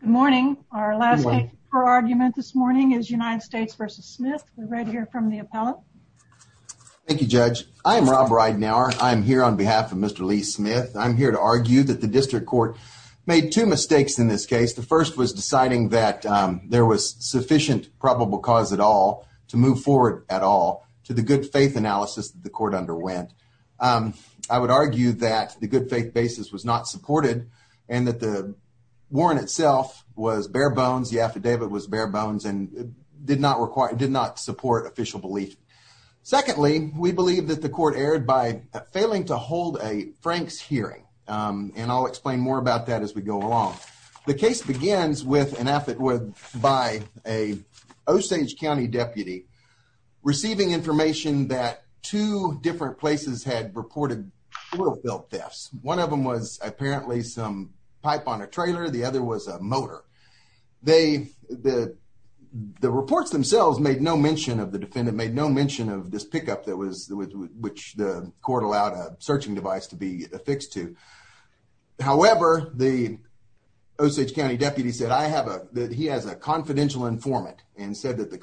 Good morning. Our last argument this morning is United States v. Smith. We read here from the appellate. Thank you, Judge. I'm Rob Ridenour. I'm here on behalf of Mr. Lee Smith. I'm here to argue that the district court made two mistakes in this case. The first was deciding that there was sufficient probable cause at all to move forward at all to the good faith analysis that the court underwent. I would argue that the good faith basis was not supported and that the warrant itself was bare bones. The affidavit was bare bones and did not require, did not support official belief. Secondly, we believe that the court erred by failing to hold a Frank's hearing. And I'll explain more about that as we go along. The case begins with an affidavit by a Osage County deputy receiving information that two different places had reported wheelbill thefts. One of them was apparently some pipe on a trailer. The other was a motor. They, the, the reports themselves made no mention of the defendant, made no mention of this pickup that was, which the court allowed a searching device to be affixed to. However, the Osage County deputy said, I have a, that he has a confidential informant and said that the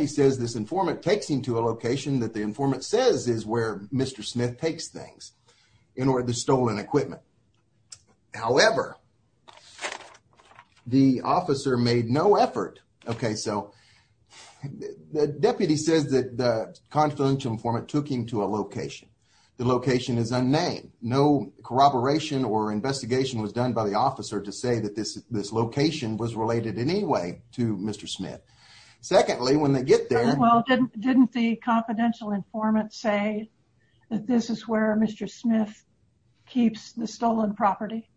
he says this informant takes him to a location that the informant says is where Mr. Smith takes things in order to stolen equipment. However, the officer made no effort. Okay. So the deputy says that the confidential informant took him to a location. The location is unnamed. No corroboration or investigation was done by the officer to say that this, this location was related in any way to Mr. Smith. Secondly, when they get there, well, didn't, didn't the confidential informant say that this is where Mr. Smith keeps the stolen property.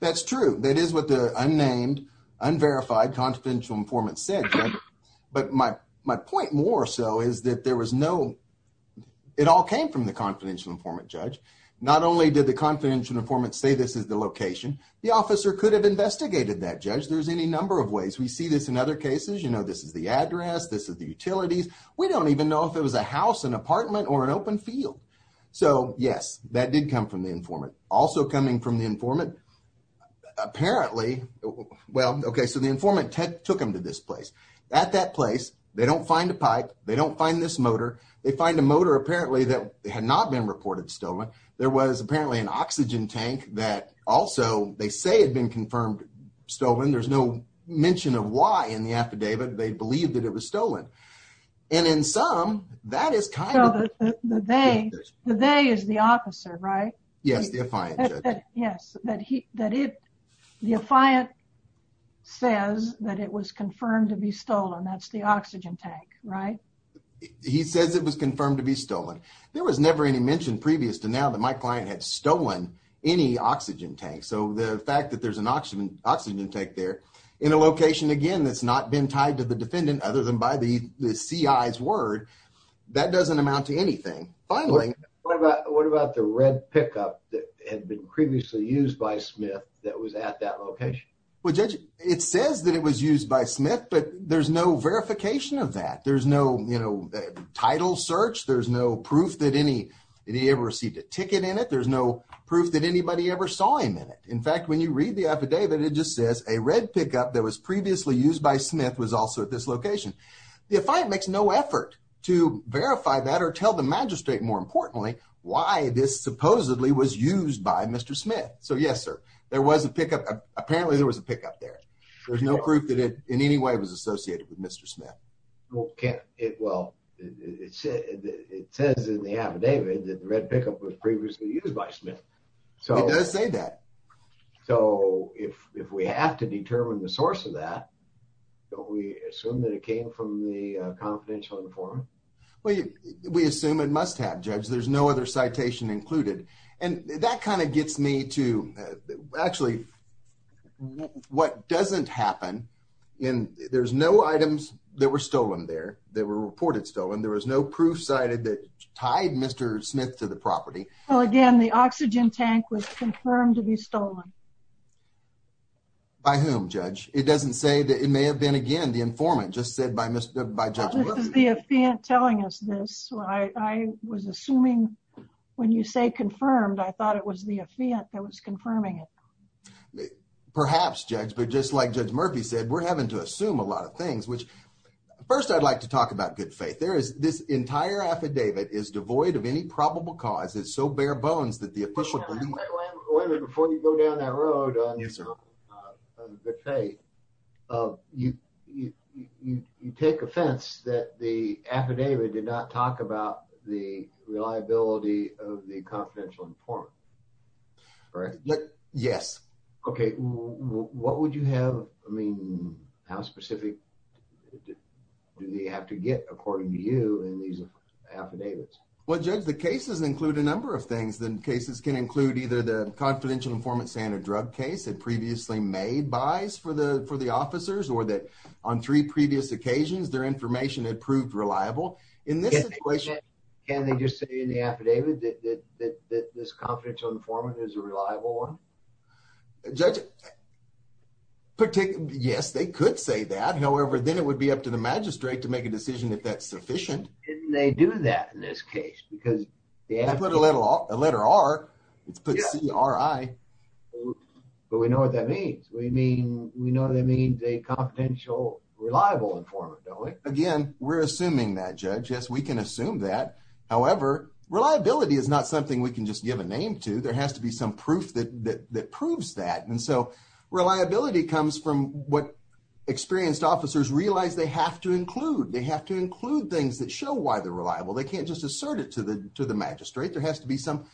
That's true. That is what the unnamed unverified confidential informant said. But my, my point more so is that there was no, it all came from the confidential informant judge. Not only did the confidential informant say this is the location, the officer could have investigated that judge. There's any number of ways we see this in other cases, you know, this is the address, this is the utilities. We don't even know if it was a house, an apartment or an open field. So yes, that did come from the informant also coming from the informant apparently. Well, okay. So the informant took him to this place at that place. They don't find a pipe. They don't find this motor. They find a motor apparently that had not been reported stolen. There was apparently an oxygen tank that also they say had been confirmed stolen. There's no mention of why in the affidavit. They believed that it was stolen. And in some that is kind of the, they, they is the officer, right? Yes. Yes. That he, that it, the affiant says that it was confirmed to be stolen. That's the oxygen tank, right? He says it was confirmed to be stolen. There was never any mentioned previous to now that my client had stolen any oxygen tank. So the fact that there's an oxygen oxygen tank there in a location, again, that's not been tied to the defendant other than by the CIs word, that doesn't amount to anything. Finally, what about, what about the red pickup that had been previously used by Smith that was at that location? Well, judge, it says that it was used by Smith, but there's no verification of that. There's no, you know, title search. There's no proof that any, any ever received a ticket in it. There's no proof that anybody ever saw him in it. In fact, when you read the affidavit, it just says a red pickup that was previously used by Smith was also at this location. The affiant makes no effort to verify that or tell the magistrate more importantly, why this supposedly was used by Mr. Smith. So yes, sir, there was a pickup. Apparently there was a pickup there. There's no proof that it in any way was associated with Mr. Smith. Well, can't it? Well, it says in the affidavit that the red pickup was previously used by Smith. So it does say that. So if, if we have to determine the source of that, don't we assume that it came from the confidential informant? Well, we assume it must have judge there's no other citation included. And that kind of gets me to actually what doesn't happen in, there's no items that were stolen there that were reported stolen. There was no proof cited that tied Mr. Smith to the property. Well, again, the oxygen tank was confirmed to be stolen by whom judge. It doesn't say that it may have been again, the informant just said by Mr. By the affiant telling us this, I was assuming when you say confirmed, I thought it was the affiant that was confirming it. Perhaps judge, but just like judge Murphy said, we're having to assume a lot of things, which first I'd like to talk about good faith. There is this entire affidavit is devoid of any probable cause. It's so bare bones that the official before you go down that road, you take offense that the affidavit did not talk about the reliability of the confidential informant, right? Yes. Okay. What would you have? I mean, how specific do they have to get according to you and these affidavits? Well, judge, the cases include a number of things. Then cases can include either the confidential informant standard drug case that previously made buys for the, for the officers or that on three previous occasions, their information had proved reliable in this equation. Can they just say in the affidavit that, that, that, that this confidential informant is a reliable one. Judge particular. Yes, they could say that. However, then it would be up to the magistrate to make a decision if that's sufficient. And they do that in this case, because they put a little off a letter R it's put CRI, but we know what that means. We mean, we know that means a confidential reliable informant. Again, we're assuming that judge, yes, we can assume that. However, reliability is not something we can just give a name to. There has to be some proof that, that, that proves that. And so reliability comes from what experienced officers realize they have to include. They have to include things that show why they're reliable. They can't just assert it to the, to the magistrate. There has to be some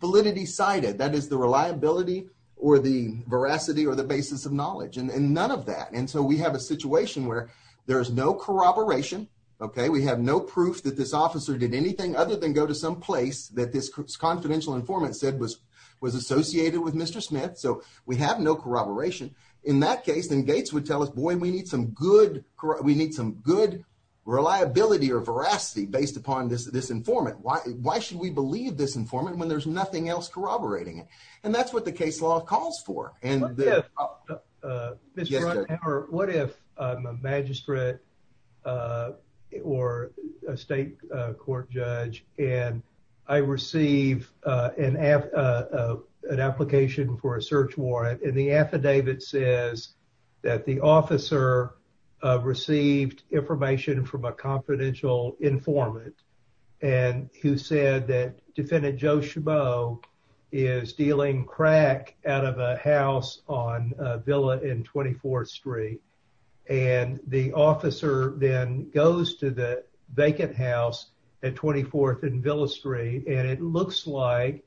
that is the reliability or the veracity or the basis of knowledge and none of that. And so we have a situation where there is no corroboration. Okay. We have no proof that this officer did anything other than go to some place that this confidential informant said was, was associated with Mr. Smith. So we have no corroboration in that case. And Gates would tell us, boy, we need some good, we need some good reliability or veracity based upon this, this informant. Why, why should we believe this informant when there's nothing else corroborating it? And that's what the case law calls for. And what if, what if I'm a magistrate or a state court judge and I receive an app, an application for a search warrant and the affidavit says that the officer received information from a confidential informant and who said that defendant Joe Chabot is dealing crack out of a house on Villa and 24th street. And the officer then goes to the vacant house at 24th and Villa street. And it looks like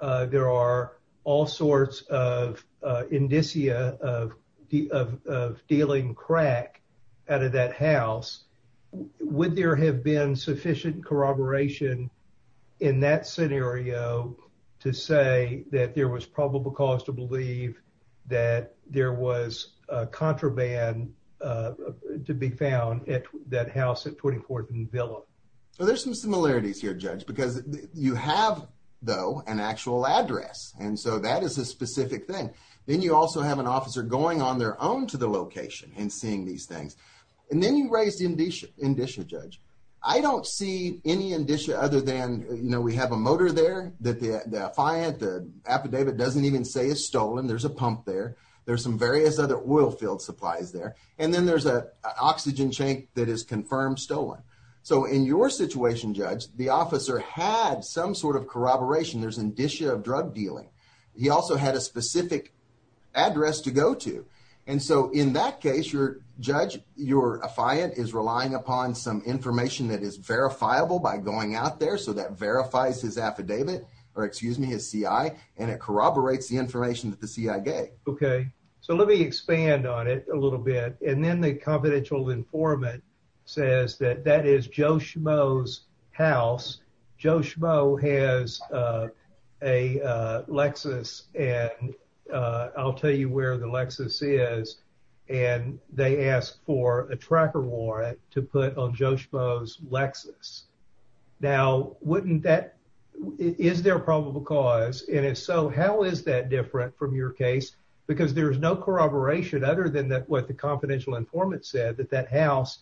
there are all sorts of indicia of, of, of dealing crack out of that house. Would there have been sufficient corroboration in that scenario to say that there was probable cause to believe that there was a contraband to be found at that house at 24th and Villa? Well, there's some similarities here judge, because you have though an actual address. And so that is a specific thing. Then you also have an officer going on their own to the location and seeing these things. And then you raised indicia judge. I don't see any indicia other than, you know, we have a motor there that the, the affidavit doesn't even say is stolen. There's a pump there. There's some various other oil field supplies there. And then there's a oxygen tank that is confirmed stolen. So in your had some sort of corroboration, there's indicia of drug dealing. He also had a specific address to go to. And so in that case, your judge, your affiant is relying upon some information that is verifiable by going out there. So that verifies his affidavit or excuse me, his CI, and it corroborates the information that the CI gave. Okay. So let me expand on it a little bit. And that is Joe Schmoe's house. Joe Schmoe has a Lexus and I'll tell you where the Lexus is. And they asked for a tracker warrant to put on Joe Schmoe's Lexus. Now, wouldn't that, is there a probable cause? And if so, how is that different from your case? Because there's no informant said that that house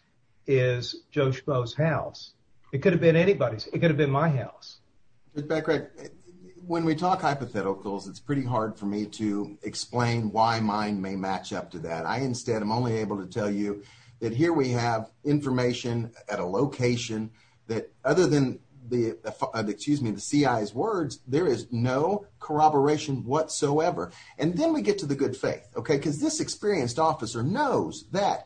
is Joe Schmoe's house. It could have been anybody's. It could have been my house. When we talk hypotheticals, it's pretty hard for me to explain why mine may match up to that. I instead, I'm only able to tell you that here we have information at a location that other than the, excuse me, the CI's words, there is no corroboration whatsoever. And then we know that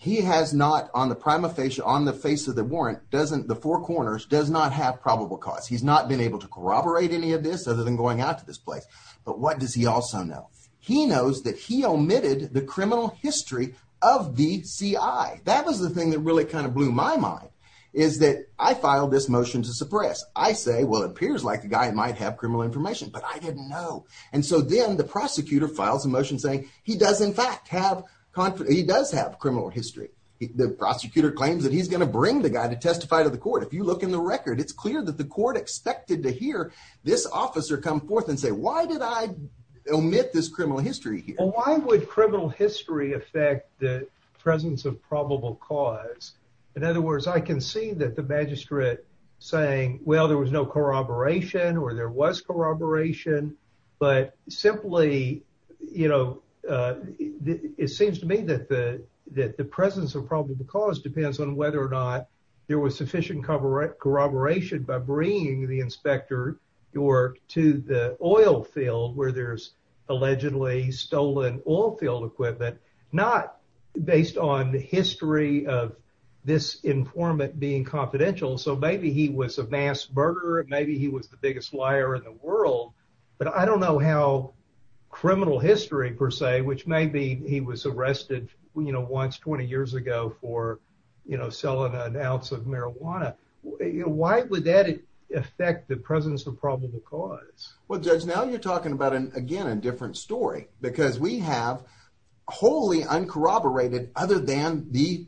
he has not on the prima facie, on the face of the warrant, doesn't the four corners does not have probable cause. He's not been able to corroborate any of this other than going out to this place. But what does he also know? He knows that he omitted the criminal history of the CI. That was the thing that really kind of blew my mind is that I filed this motion to suppress. I say, well, it appears like the guy might have criminal information, but I didn't know. And so then the prosecutor files a motion saying he does in fact have confidence. He does have criminal history. The prosecutor claims that he's going to bring the guy to testify to the court. If you look in the record, it's clear that the court expected to hear this officer come forth and say, why did I omit this criminal history here? Why would criminal history affect the presence of probable cause? In other words, I can see that the magistrate saying, well, there was no corroboration or there was corroboration, but simply, you know it seems to me that the presence of probable cause depends on whether or not there was sufficient corroboration by bringing the inspector to the oil field where there's allegedly stolen oil field equipment, not based on the history of this informant being confidential. So maybe he was a mass murderer. Maybe he was the biggest liar in the world, but I don't know how criminal history per se, which may be, he was arrested, you know, once 20 years ago for, you know, selling an ounce of marijuana. Why would that affect the presence of probable cause? Well, judge, now you're talking about an, again, a different story because we have wholly uncorroborated other than the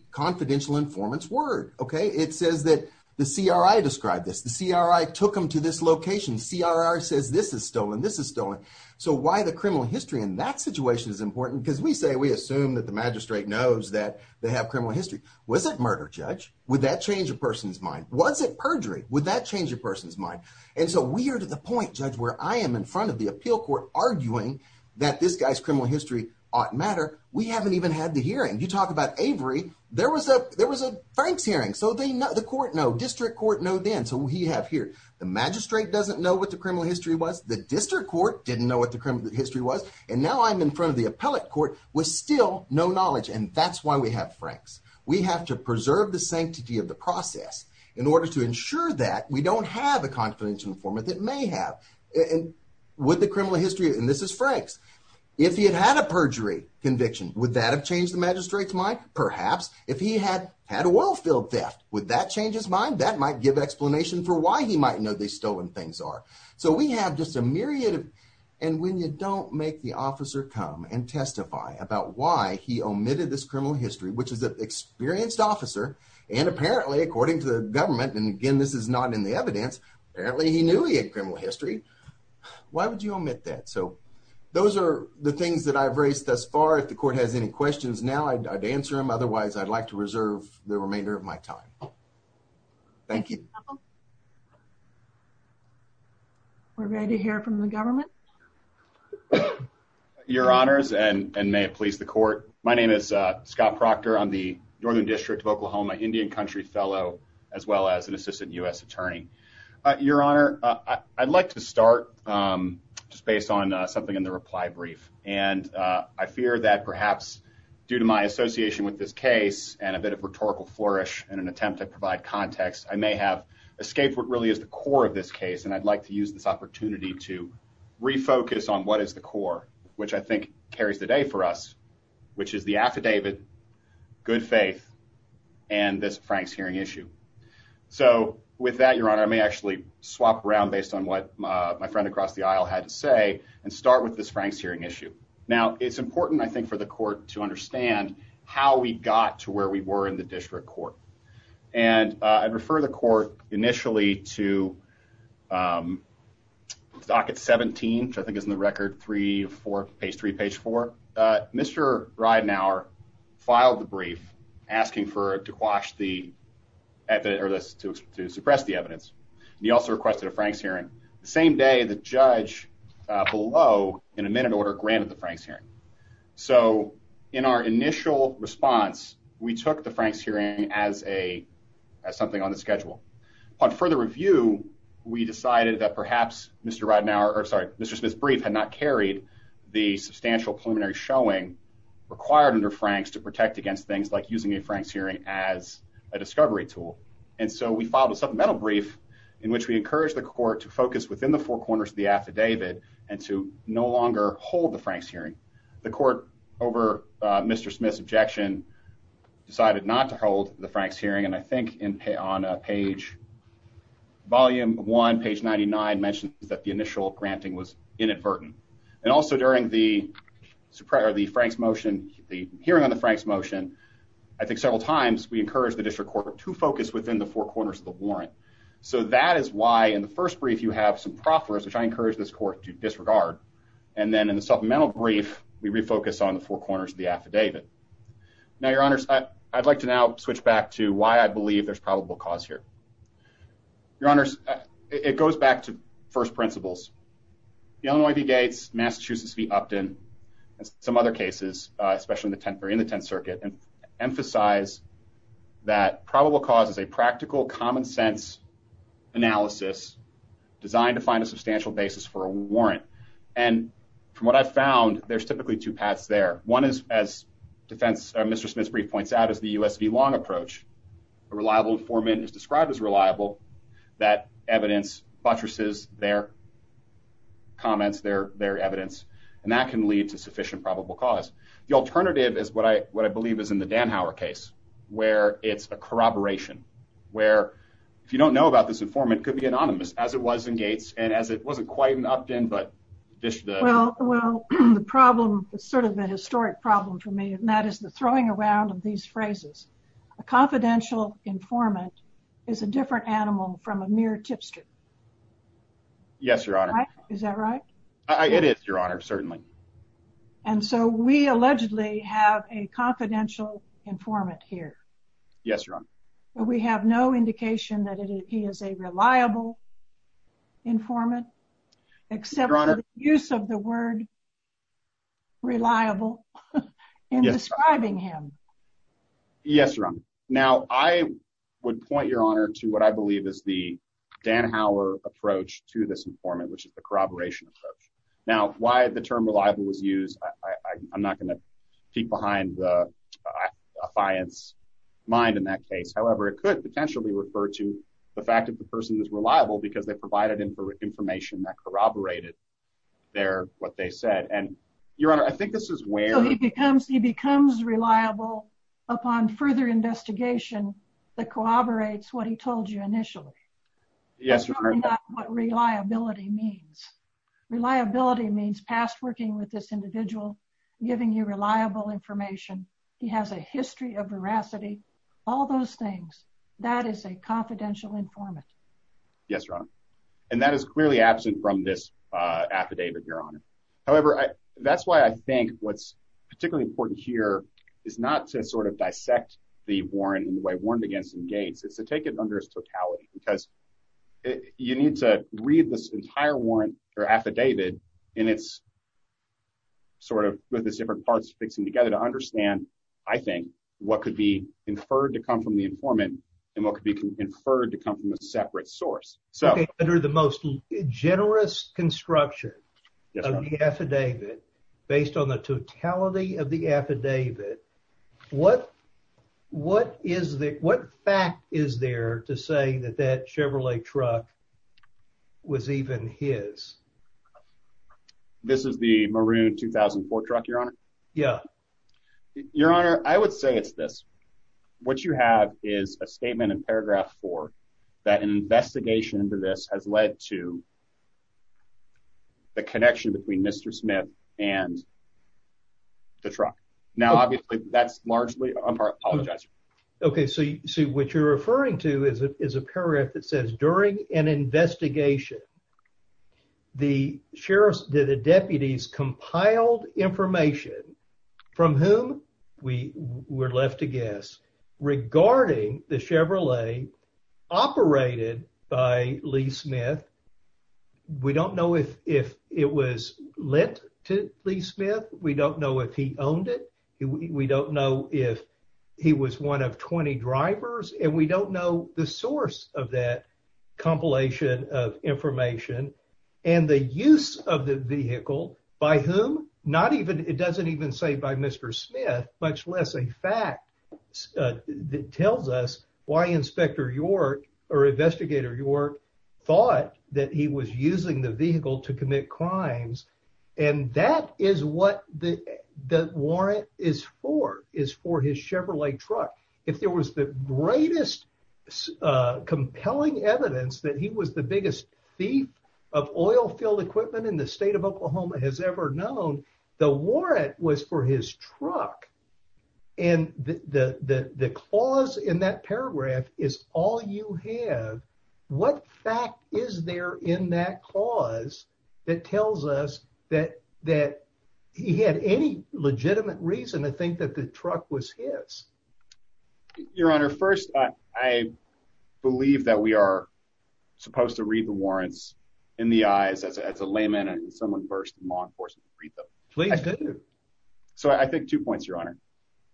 CRI took him to this location. CRI says this is stolen, this is stolen. So why the criminal history in that situation is important because we say, we assume that the magistrate knows that they have criminal history. Was it murder, judge? Would that change a person's mind? Was it perjury? Would that change a person's mind? And so we are to the point, judge, where I am in front of the appeal court arguing that this guy's criminal history oughtn't matter. We haven't even had the hearing. You talk about Avery. There was a, there was a thanks hearing. So they know, the court know, district court know then. So he have here, the magistrate doesn't know what the criminal history was. The district court didn't know what the criminal history was. And now I'm in front of the appellate court with still no knowledge. And that's why we have Franks. We have to preserve the sanctity of the process in order to ensure that we don't have a confidential informant that may have, and with the criminal history, and this is Franks. If he had had a perjury conviction, would that have changed the magistrate's mind? Perhaps if he had had a oil field theft, would that change his mind? That might give explanation for why he might know these stolen things are. So we have just a myriad of, and when you don't make the officer come and testify about why he omitted this criminal history, which is an experienced officer. And apparently according to the government, and again, this is not in the evidence, apparently he knew he had criminal history. Why would you omit that? So those are the things that I've raised thus far. If the court has any questions now, I'd answer them. Otherwise, I'd like to reserve the remainder of my time. Thank you. We're ready to hear from the government. Your honors, and may it please the court. My name is Scott Proctor. I'm the Northern District of Oklahoma Indian Country Fellow, as well as an assistant U.S. attorney. Your honor, I'd like to start just based on something in the reply brief. And I fear that perhaps due to my association with this case and a bit of rhetorical flourish and an attempt to provide context, I may have escaped what really is the core of this case. And I'd like to use this opportunity to refocus on what is the core, which I think carries the day for us, which is the affidavit, good faith, and this Frank's hearing issue. So with that, your honor, I may actually swap around based on what my friend across the aisle had to say and start with this Frank's hearing issue. Now, it's important, I think, for the court to understand how we got to where we were in the district court. And I'd refer the court initially to docket 17, which I think is in the record three, four, page three, page four. Mr. Ridenour filed the brief asking for it to quash the evidence or to suppress the evidence. He also requested a Frank's hearing. The same day, the judge below in a minute order granted the Frank's hearing. So in our initial response, we took the Frank's hearing as something on the schedule. Upon further review, we decided that perhaps Mr. Ridenour, or sorry, Mr. Smith's brief had not carried the substantial preliminary showing required under Frank's to protect against things like using a Frank's hearing as a discovery tool. And so we filed a supplemental brief in which we encouraged the court to focus within the four corners of the affidavit and to no longer hold the Frank's hearing. The court over Mr. Smith's objection decided not to hold the Frank's hearing. And I think on page volume one, page 99 mentioned that the initial granting was inadvertent. And also during the hearing on the Frank's motion, I think several times we encouraged the district court to focus within the four corners of the warrant. So that is why in the first brief, you have some proffers, which I encourage this court to disregard. And then in the supplemental brief, we refocus on the four corners of the affidavit. Now, your honors, I'd like to now switch back to why I believe there's probable cause here. Your honors, it goes back to first principles. The Illinois v. Gates, Massachusetts v. Upton, and some other cases, especially in the Tenth Circuit, emphasize that probable cause is a practical, common sense analysis designed to find a substantial basis for a warrant. And from what I've found, there's typically two paths there. One is, as defense, Mr. Smith's brief points out, is the U.S. v. Long approach. A reliable informant is described as reliable. That evidence buttresses their comments, their evidence, and that can lead to sufficient probable cause. The alternative is what I believe is in the Danhower case, where it's a corroboration, where if you don't know about this informant, it could be anonymous, as it was in Gates, and as it wasn't quite in Upton, but just the- Well, the problem is sort of a historic problem for me, and that is the throwing around of these phrases. A confidential informant is a different animal from a mere tipster. Yes, Your Honor. Is that right? It is, Your Honor, certainly. And so we allegedly have a confidential informant here. Yes, Your Honor. We have no indication that he is a reliable informant, except for the use of the word reliable in describing him. Yes, Your Honor. Now, I would point, Your Honor, to what I believe is the Danhower approach to this informant, which is the corroboration approach. Now, why the term reliable was used, I'm not going to peek behind the affiance mind in that case. However, it could potentially refer to the fact that the person is reliable because they provided information that corroborated what they said. And, becomes reliable upon further investigation that corroborates what he told you initially. Yes, Your Honor. That's not what reliability means. Reliability means past working with this individual, giving you reliable information, he has a history of veracity, all those things. That is a confidential informant. Yes, Your Honor. And that is clearly absent from this affidavit, Your Honor. However, that's why I think what's particularly important here is not to sort of dissect the warrant in the way warranted against in Gates. It's to take it under its totality because you need to read this entire warrant or affidavit in its, sort of, with its different parts mixing together to understand, I think, what could be inferred to come from the informant and what could be inferred to come from a separate source. Okay, under the most generous construction of the affidavit, based on the totality of the affidavit, what, what is the, what fact is there to say that that Chevrolet truck was even his? This is the Maroon 2004 truck, Your Honor? Yeah. Your Honor, I would say it's this. What you have is a statement in paragraph four that an investigation into this has led to the connection between Mr. Smith and the truck. Now, obviously, that's largely, I apologize. Okay, so you see what you're referring to is a paragraph that says, during an investigation, the sheriff's, the deputies, compiled information from whom we were left to guess regarding the Chevrolet operated by Lee Smith. We don't know if, if it was lent to Lee Smith. We don't know if he owned it. We don't know if he was one of 20 drivers, and we don't know the source of that compilation of information and the use of the vehicle by whom, not even, it doesn't even say by Mr. Smith, much less a fact that tells us why Inspector York or Investigator York thought that he was using the vehicle to commit crimes, and that is what the, the warrant is for, is for his Chevrolet truck. If there was the greatest compelling evidence that he was the biggest thief of oil-filled equipment in the state of Oklahoma has ever known, the warrant was for his truck, and the, the, the clause in that paragraph is all you have. What fact is there in that clause that tells us that, that he had any legitimate reason to think that the truck was his? Your Honor, first, I believe that we are supposed to read the warrants in the eyes as a layman and someone first in law enforcement to read them. Please do. So I think two points, Your Honor.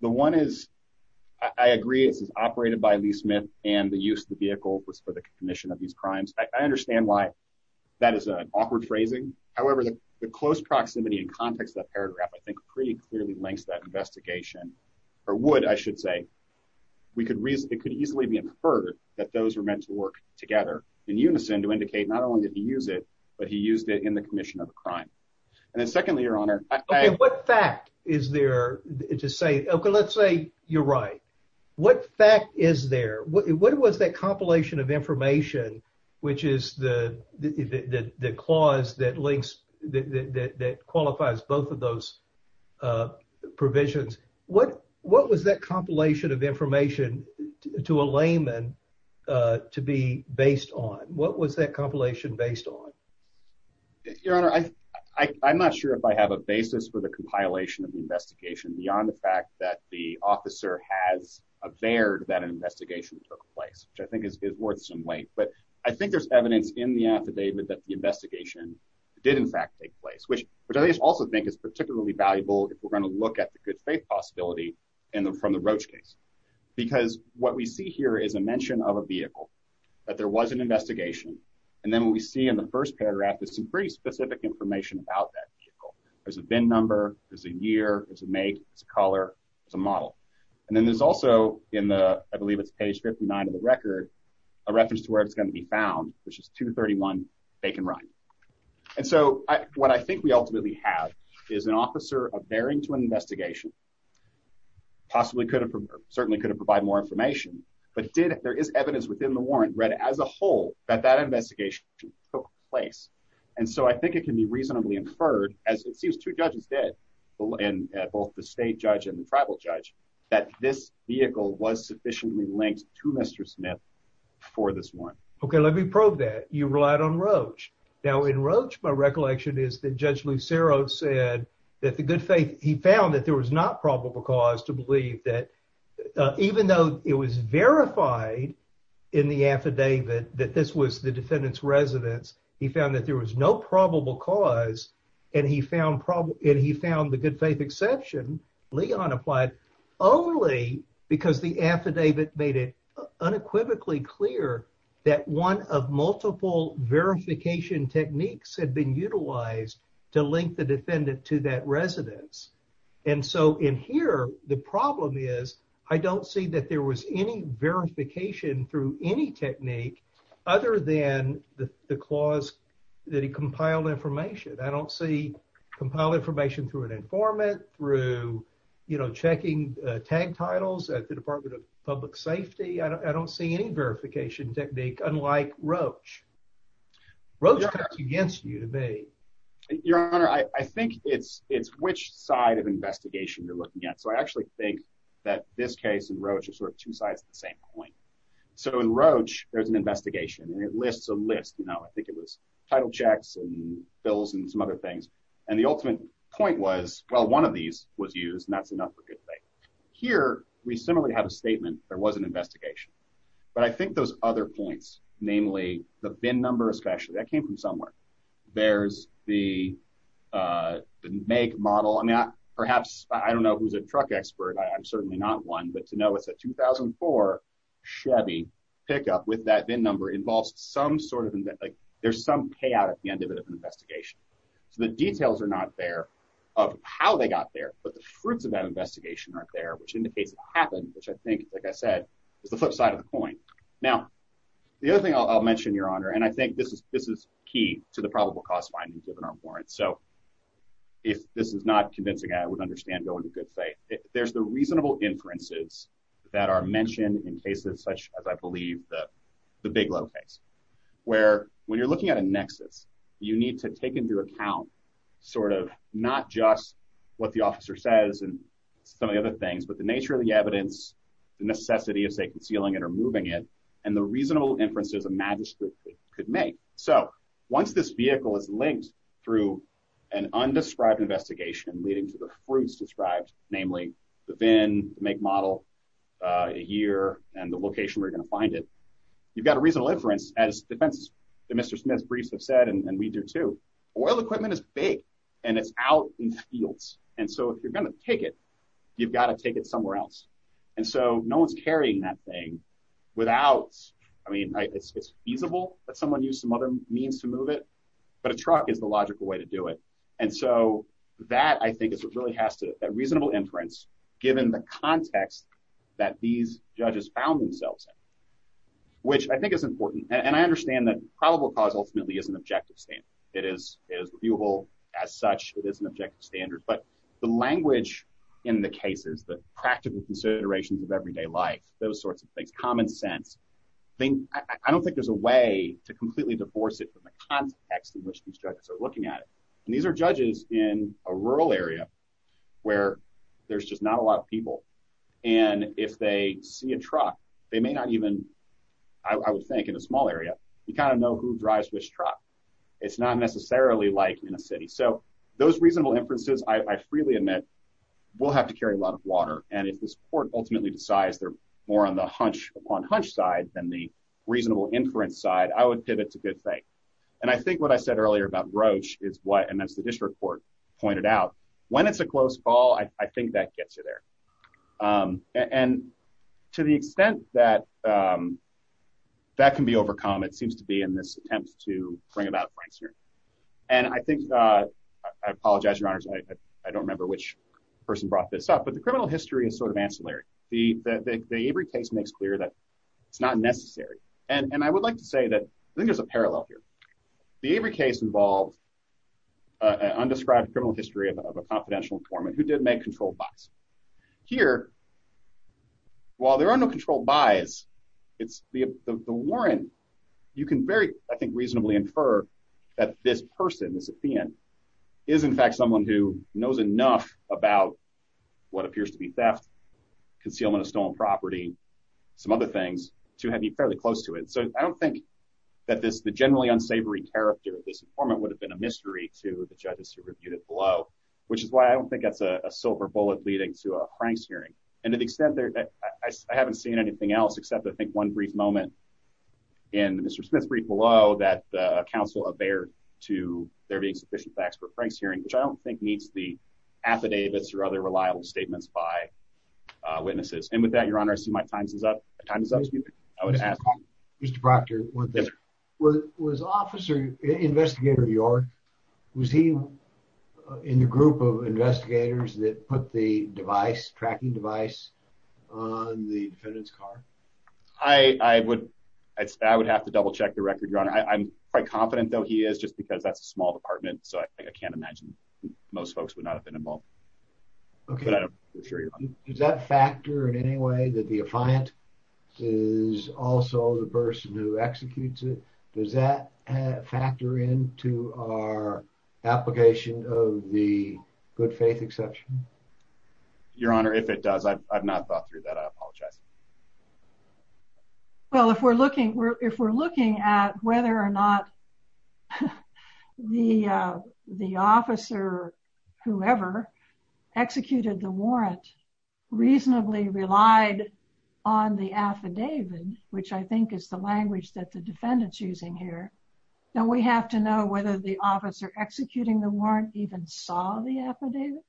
The one is, I agree this is operated by Lee Smith and the use of the vehicle was for the commission of these crimes. I understand why that is an awkward phrasing. However, the close proximity and context of that paragraph I think pretty clearly links that investigation, or would, I should say. We could reason, it could easily be inferred that those were meant to work together in unison to indicate not only did he use it, but he used it in the commission of the crime. And then secondly, Your Honor, I, I, what fact is there to say, okay, let's say you're right. What fact is there? What, what was that compilation of information, which is the, the clause that links, that qualifies both of those provisions? What, what was that compilation of information to a layman to be based on? What was that compilation based on? Your Honor, I, I, I'm not sure if I have a basis for the compilation of the investigation beyond the fact that the officer has averred that an investigation took place, which I think is worth some weight. But I think there's evidence in the affidavit that the investigation did in fact take place, which, which I also think is particularly valuable if we're going to look at the good faith possibility in the, from the Roach case. Because what we see here is a mention of a vehicle that there was an investigation. And then when we see in the first paragraph, there's some pretty specific information about that vehicle. There's a VIN number, there's a year, there's a make, there's a color, there's a model. And then there's also in the, I believe it's page 59 of the record, a reference to where it's going to be found, which is 231 Bacon Run. And so I, what I think we ultimately have is an officer averring to an investigation, possibly could have, certainly could have provided more information, but did, there is evidence within the warrant read as a whole that that investigation took place. And so I think it can be reasonably inferred, as it seems two judges did, both the state judge and the tribal judge, that this vehicle was sufficiently linked to Mr. Smith for this warrant. Okay, let me probe that. You relied on Roach. Now in Roach, my recollection is that Judge Lucero said that the good faith, he found that there was not probable cause to believe that, even though it was verified in the affidavit that this was the defendant's residence, he found that there was no probable cause and he found, and he found the good faith exception, Leon applied only because the affidavit made it unequivocally clear that one of multiple verification techniques had been utilized to link the defendant to that residence. And so in here, the problem is I don't see that there was any verification through any technique other than the clause that he compiled information. I don't see compiled information through an informant, through, you know, checking tag titles at the Department of Public Safety. I don't see any verification technique unlike Roach. Roach cuts against you to me. Your honor, I think it's, it's which side of investigation you're looking at. So I actually think that this case and Roach are sort of two sides of the same coin. So in Roach, there's an investigation and it lists a list, you know, I think it was title checks and bills and some other things. And the ultimate point was, well, one of these was used and that's enough for good faith. Here, we similarly have a statement. There was an investigation, but I think those other points, namely the VIN number, especially that came from somewhere. There's the make model. I mean, perhaps I don't know who's a truck expert. I'm certainly not one, but to know it's a 2004 Chevy pickup with that VIN number involves some sort of, like there's some payout at the end of it of an investigation. So the details are not there of how they got there, but the fruits of that investigation are there, which indicates it happened, which I think, like I said, is the flip side of the coin. Now, the other thing I'll, I'll mention your honor, and I think this is, this is key to the probable cause finding given our warrants. So if this is not convincing, I would understand going to good faith. There's the reasonable inferences that are mentioned in cases such as I believe the, the big low case, where when you're looking at a nexus, you need to take into account sort of not just what the officer says and some of the other things, but the nature of the evidence, the necessity of say, concealing it or moving it, and the reasonable inferences a magistrate could make. So once this vehicle is linked through an undescribed investigation leading to the fruits described, namely the VIN, make model, a year, and the location where you're going to find it, you've got a reasonable inference as defense that Mr. Smith's briefs have said, and we do too. Oil equipment is big and it's out in fields. And so if you're going to take it, you've got to take it somewhere else. And so no one's carrying that thing without, I mean, it's feasible that someone used some other means to move it, but a truck is the logical way to do it. And so that I think is what really has to, that reasonable inference, given the context that these judges found themselves in, which I think is important. And I understand that probable cause ultimately is an objective standard. It is, it is viewable as such. It is an objective standard, but the language in the cases, the practical considerations of everyday life, those sorts of things, common sense, I don't think there's a way to completely divorce it from the context in which these judges are looking at it. And these are judges in a rural area where there's just not a lot of people. And if they see a truck, they may not even, I would think in a small area, you kind of know who drives which truck. It's not necessarily like in a city. So those reasonable inferences, I freely admit, will have to carry a lot of water. And if this court ultimately decides they're more on the hunch upon hunch side than the reasonable inference side, I would pivot to good faith. And I think what I said earlier about Roche is what, and that's the And to the extent that that can be overcome, it seems to be in this attempt to bring about Frank's hearing. And I think, I apologize, your honors, I don't remember which person brought this up, but the criminal history is sort of ancillary. The Avery case makes clear that it's not necessary. And I would like to say that I think there's a parallel here. The Avery case involved an undescribed criminal history of a confidential informant who did make controlled buys. Here, while there are no controlled buys, it's the warrant. You can very, I think, reasonably infer that this person, this offend, is in fact someone who knows enough about what appears to be theft, concealment of stolen property, some other things to have you fairly close to it. So I don't think that this, the generally unsavory character of this informant would have been a mystery to the judges who reviewed it below, which is why I don't think that's a silver bullet leading to a Frank's hearing. And to the extent that I haven't seen anything else, except I think one brief moment in Mr. Smith's brief below that the council of there to there being sufficient facts for Frank's hearing, which I don't think meets the affidavits or other reliable statements by witnesses. And with that, your honor, I see my time is up. The time is up. Excuse me. I would ask Mr. Proctor. Was officer investigator York, was he in the group of investigators that put the device tracking device on the defendant's car? I, I would, I would have to double check the record, your honor. I'm quite confident though he is just because that's a small department. So I can't imagine most folks would not have been involved. Okay. Does that factor in any way that the affiant is also the person who executes it? Does that factor into our application of the good faith exception? Your honor, if it does, I've not thought through that. I apologize. Well, if we're looking, if we're looking at whether or not the, the officer, whoever executed the warrant reasonably relied on the affidavit, which I think is the language that defendant's using here. Now we have to know whether the officer executing the warrant even saw the affidavit.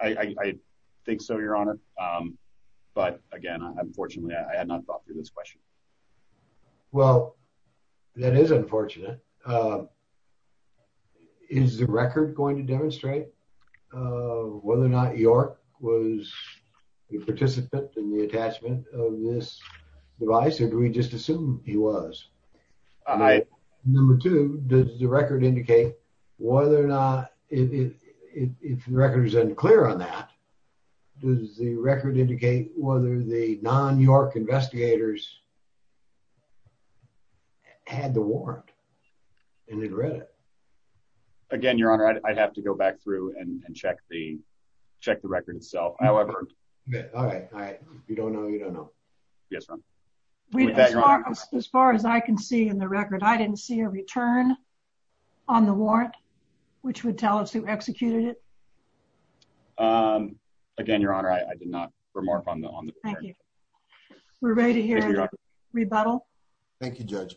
I think so, your honor. But again, unfortunately I had not thought through this question. Well, that is unfortunate. Is the record going to demonstrate whether or not the participant in the attachment of this device or do we just assume he was? Number two, does the record indicate whether or not, if the record is unclear on that, does the record indicate whether the non-York investigators had the warrant and had read it? Again, your honor, I'd have to go back through and check the, however. All right. All right. You don't know. You don't know. Yes, sir. As far as I can see in the record, I didn't see a return on the warrant, which would tell us who executed it. Again, your honor, I did not remark on the, on the, we're ready to hear rebuttal. Thank you, judge.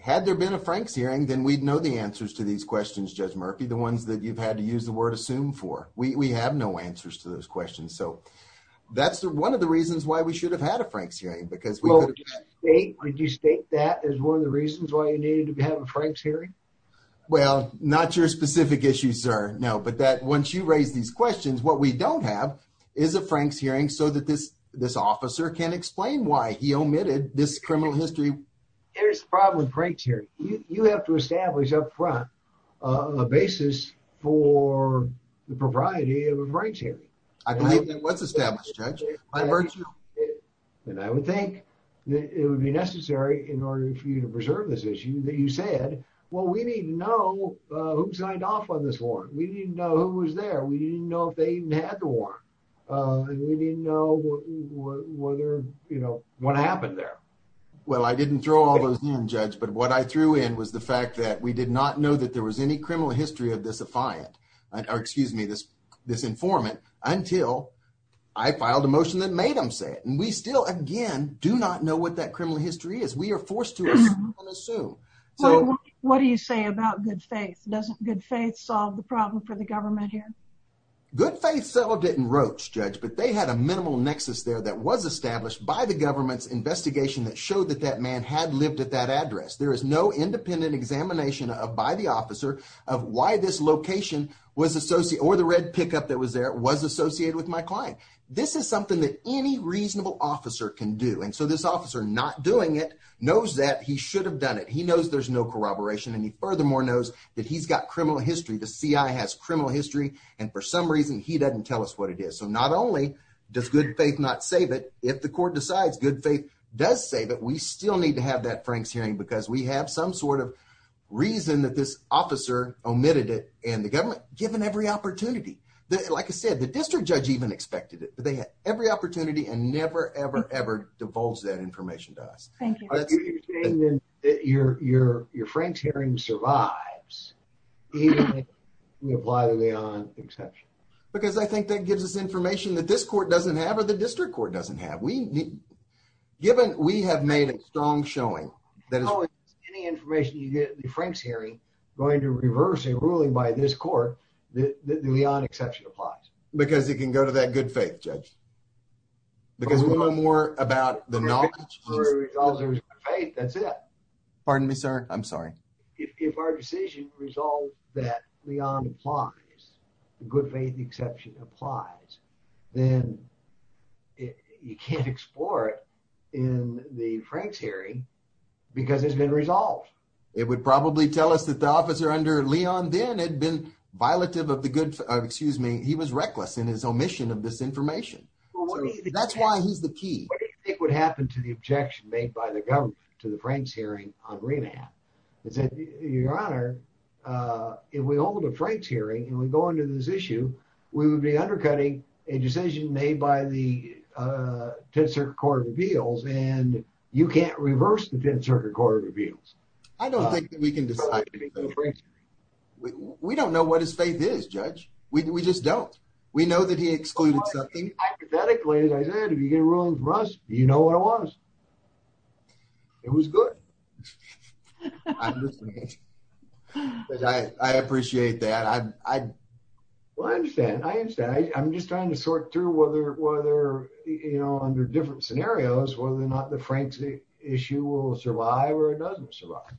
Had there been a Frank's hearing, then we'd know the answers to these questions. Judge Murphy, the ones that you've had to use word assume for, we have no answers to those questions. So that's one of the reasons why we should have had a Frank's hearing because we would just state that as one of the reasons why you needed to have a Frank's hearing. Well, not your specific issue, sir. No, but that once you raise these questions, what we don't have is a Frank's hearing so that this, this officer can explain why he omitted this criminal history. Here's the problem with Frank's hearing. You have to the propriety of a Frank's hearing. I believe that was established, judge. And I would think that it would be necessary in order for you to preserve this issue that you said, well, we need to know who signed off on this warrant. We didn't know who was there. We didn't know if they even had the warrant. And we didn't know whether, you know, what happened there. Well, I didn't throw all those in judge, but what I threw in was the fact that we did not know that there was any criminal history of this affiant or excuse me, this, this informant until I filed a motion that made them say it. And we still, again, do not know what that criminal history is. We are forced to assume. So what do you say about good faith? Doesn't good faith solve the problem for the government here? Good faith. So didn't roach judge, but they had a minimal nexus there that was established by the government's investigation that showed that that lived at that address. There is no independent examination of, by the officer of why this location was associated or the red pickup that was there was associated with my client. This is something that any reasonable officer can do. And so this officer not doing it knows that he should have done it. He knows there's no corroboration. And he furthermore knows that he's got criminal history. The CI has criminal history. And for some reason, he doesn't tell us what it is. So not only does good faith, not save it. If the court decides good faith does save it, we still need to have that Frank's hearing because we have some sort of reason that this officer omitted it and the government given every opportunity that like I said, the district judge even expected it, but they had every opportunity and never, ever, ever divulge that information to us. Thank you. Your, your, your Frank's hearing survives. We apply the way on exception, because I think that gives us information that this court doesn't have, or the district court doesn't have. We need given, we have made a strong showing that any information you get the Frank's hearing going to reverse a ruling by this court, the Leon exception applies because it can go to that good faith judge. Because we know more about the knowledge. That's it. Pardon me, sir. I'm sorry. If our decision resolved that Leon applies, the good faith exception applies, then you can't explore it in the Frank's hearing because it has been resolved. It would probably tell us that the officer under Leon then had been violative of the good, excuse me, he was reckless in his omission of this information. That's why he's the key. What do you think would happen to the if we hold a Frank's hearing and we go into this issue, we would be undercutting a decision made by the 10th Circuit Court of Appeals and you can't reverse the 10th Circuit Court of Appeals. I don't think that we can decide. We don't know what his faith is judge. We just don't. We know that he excluded something. Hypothetically, as I said, if you get a ruling from us, you know what it was. It was good. I appreciate that. Well, I understand. I understand. I'm just trying to sort through whether under different scenarios, whether or not the Frank's issue will survive or it doesn't survive.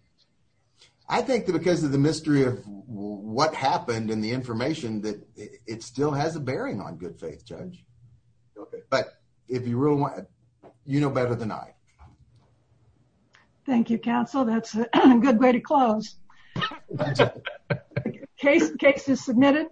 I think that because of the mystery of what happened and the information that it still has a bearing on good faith judge. Okay, but if you really want, you know better than I. Thank you, counsel. That's a good way to close. Case is submitted.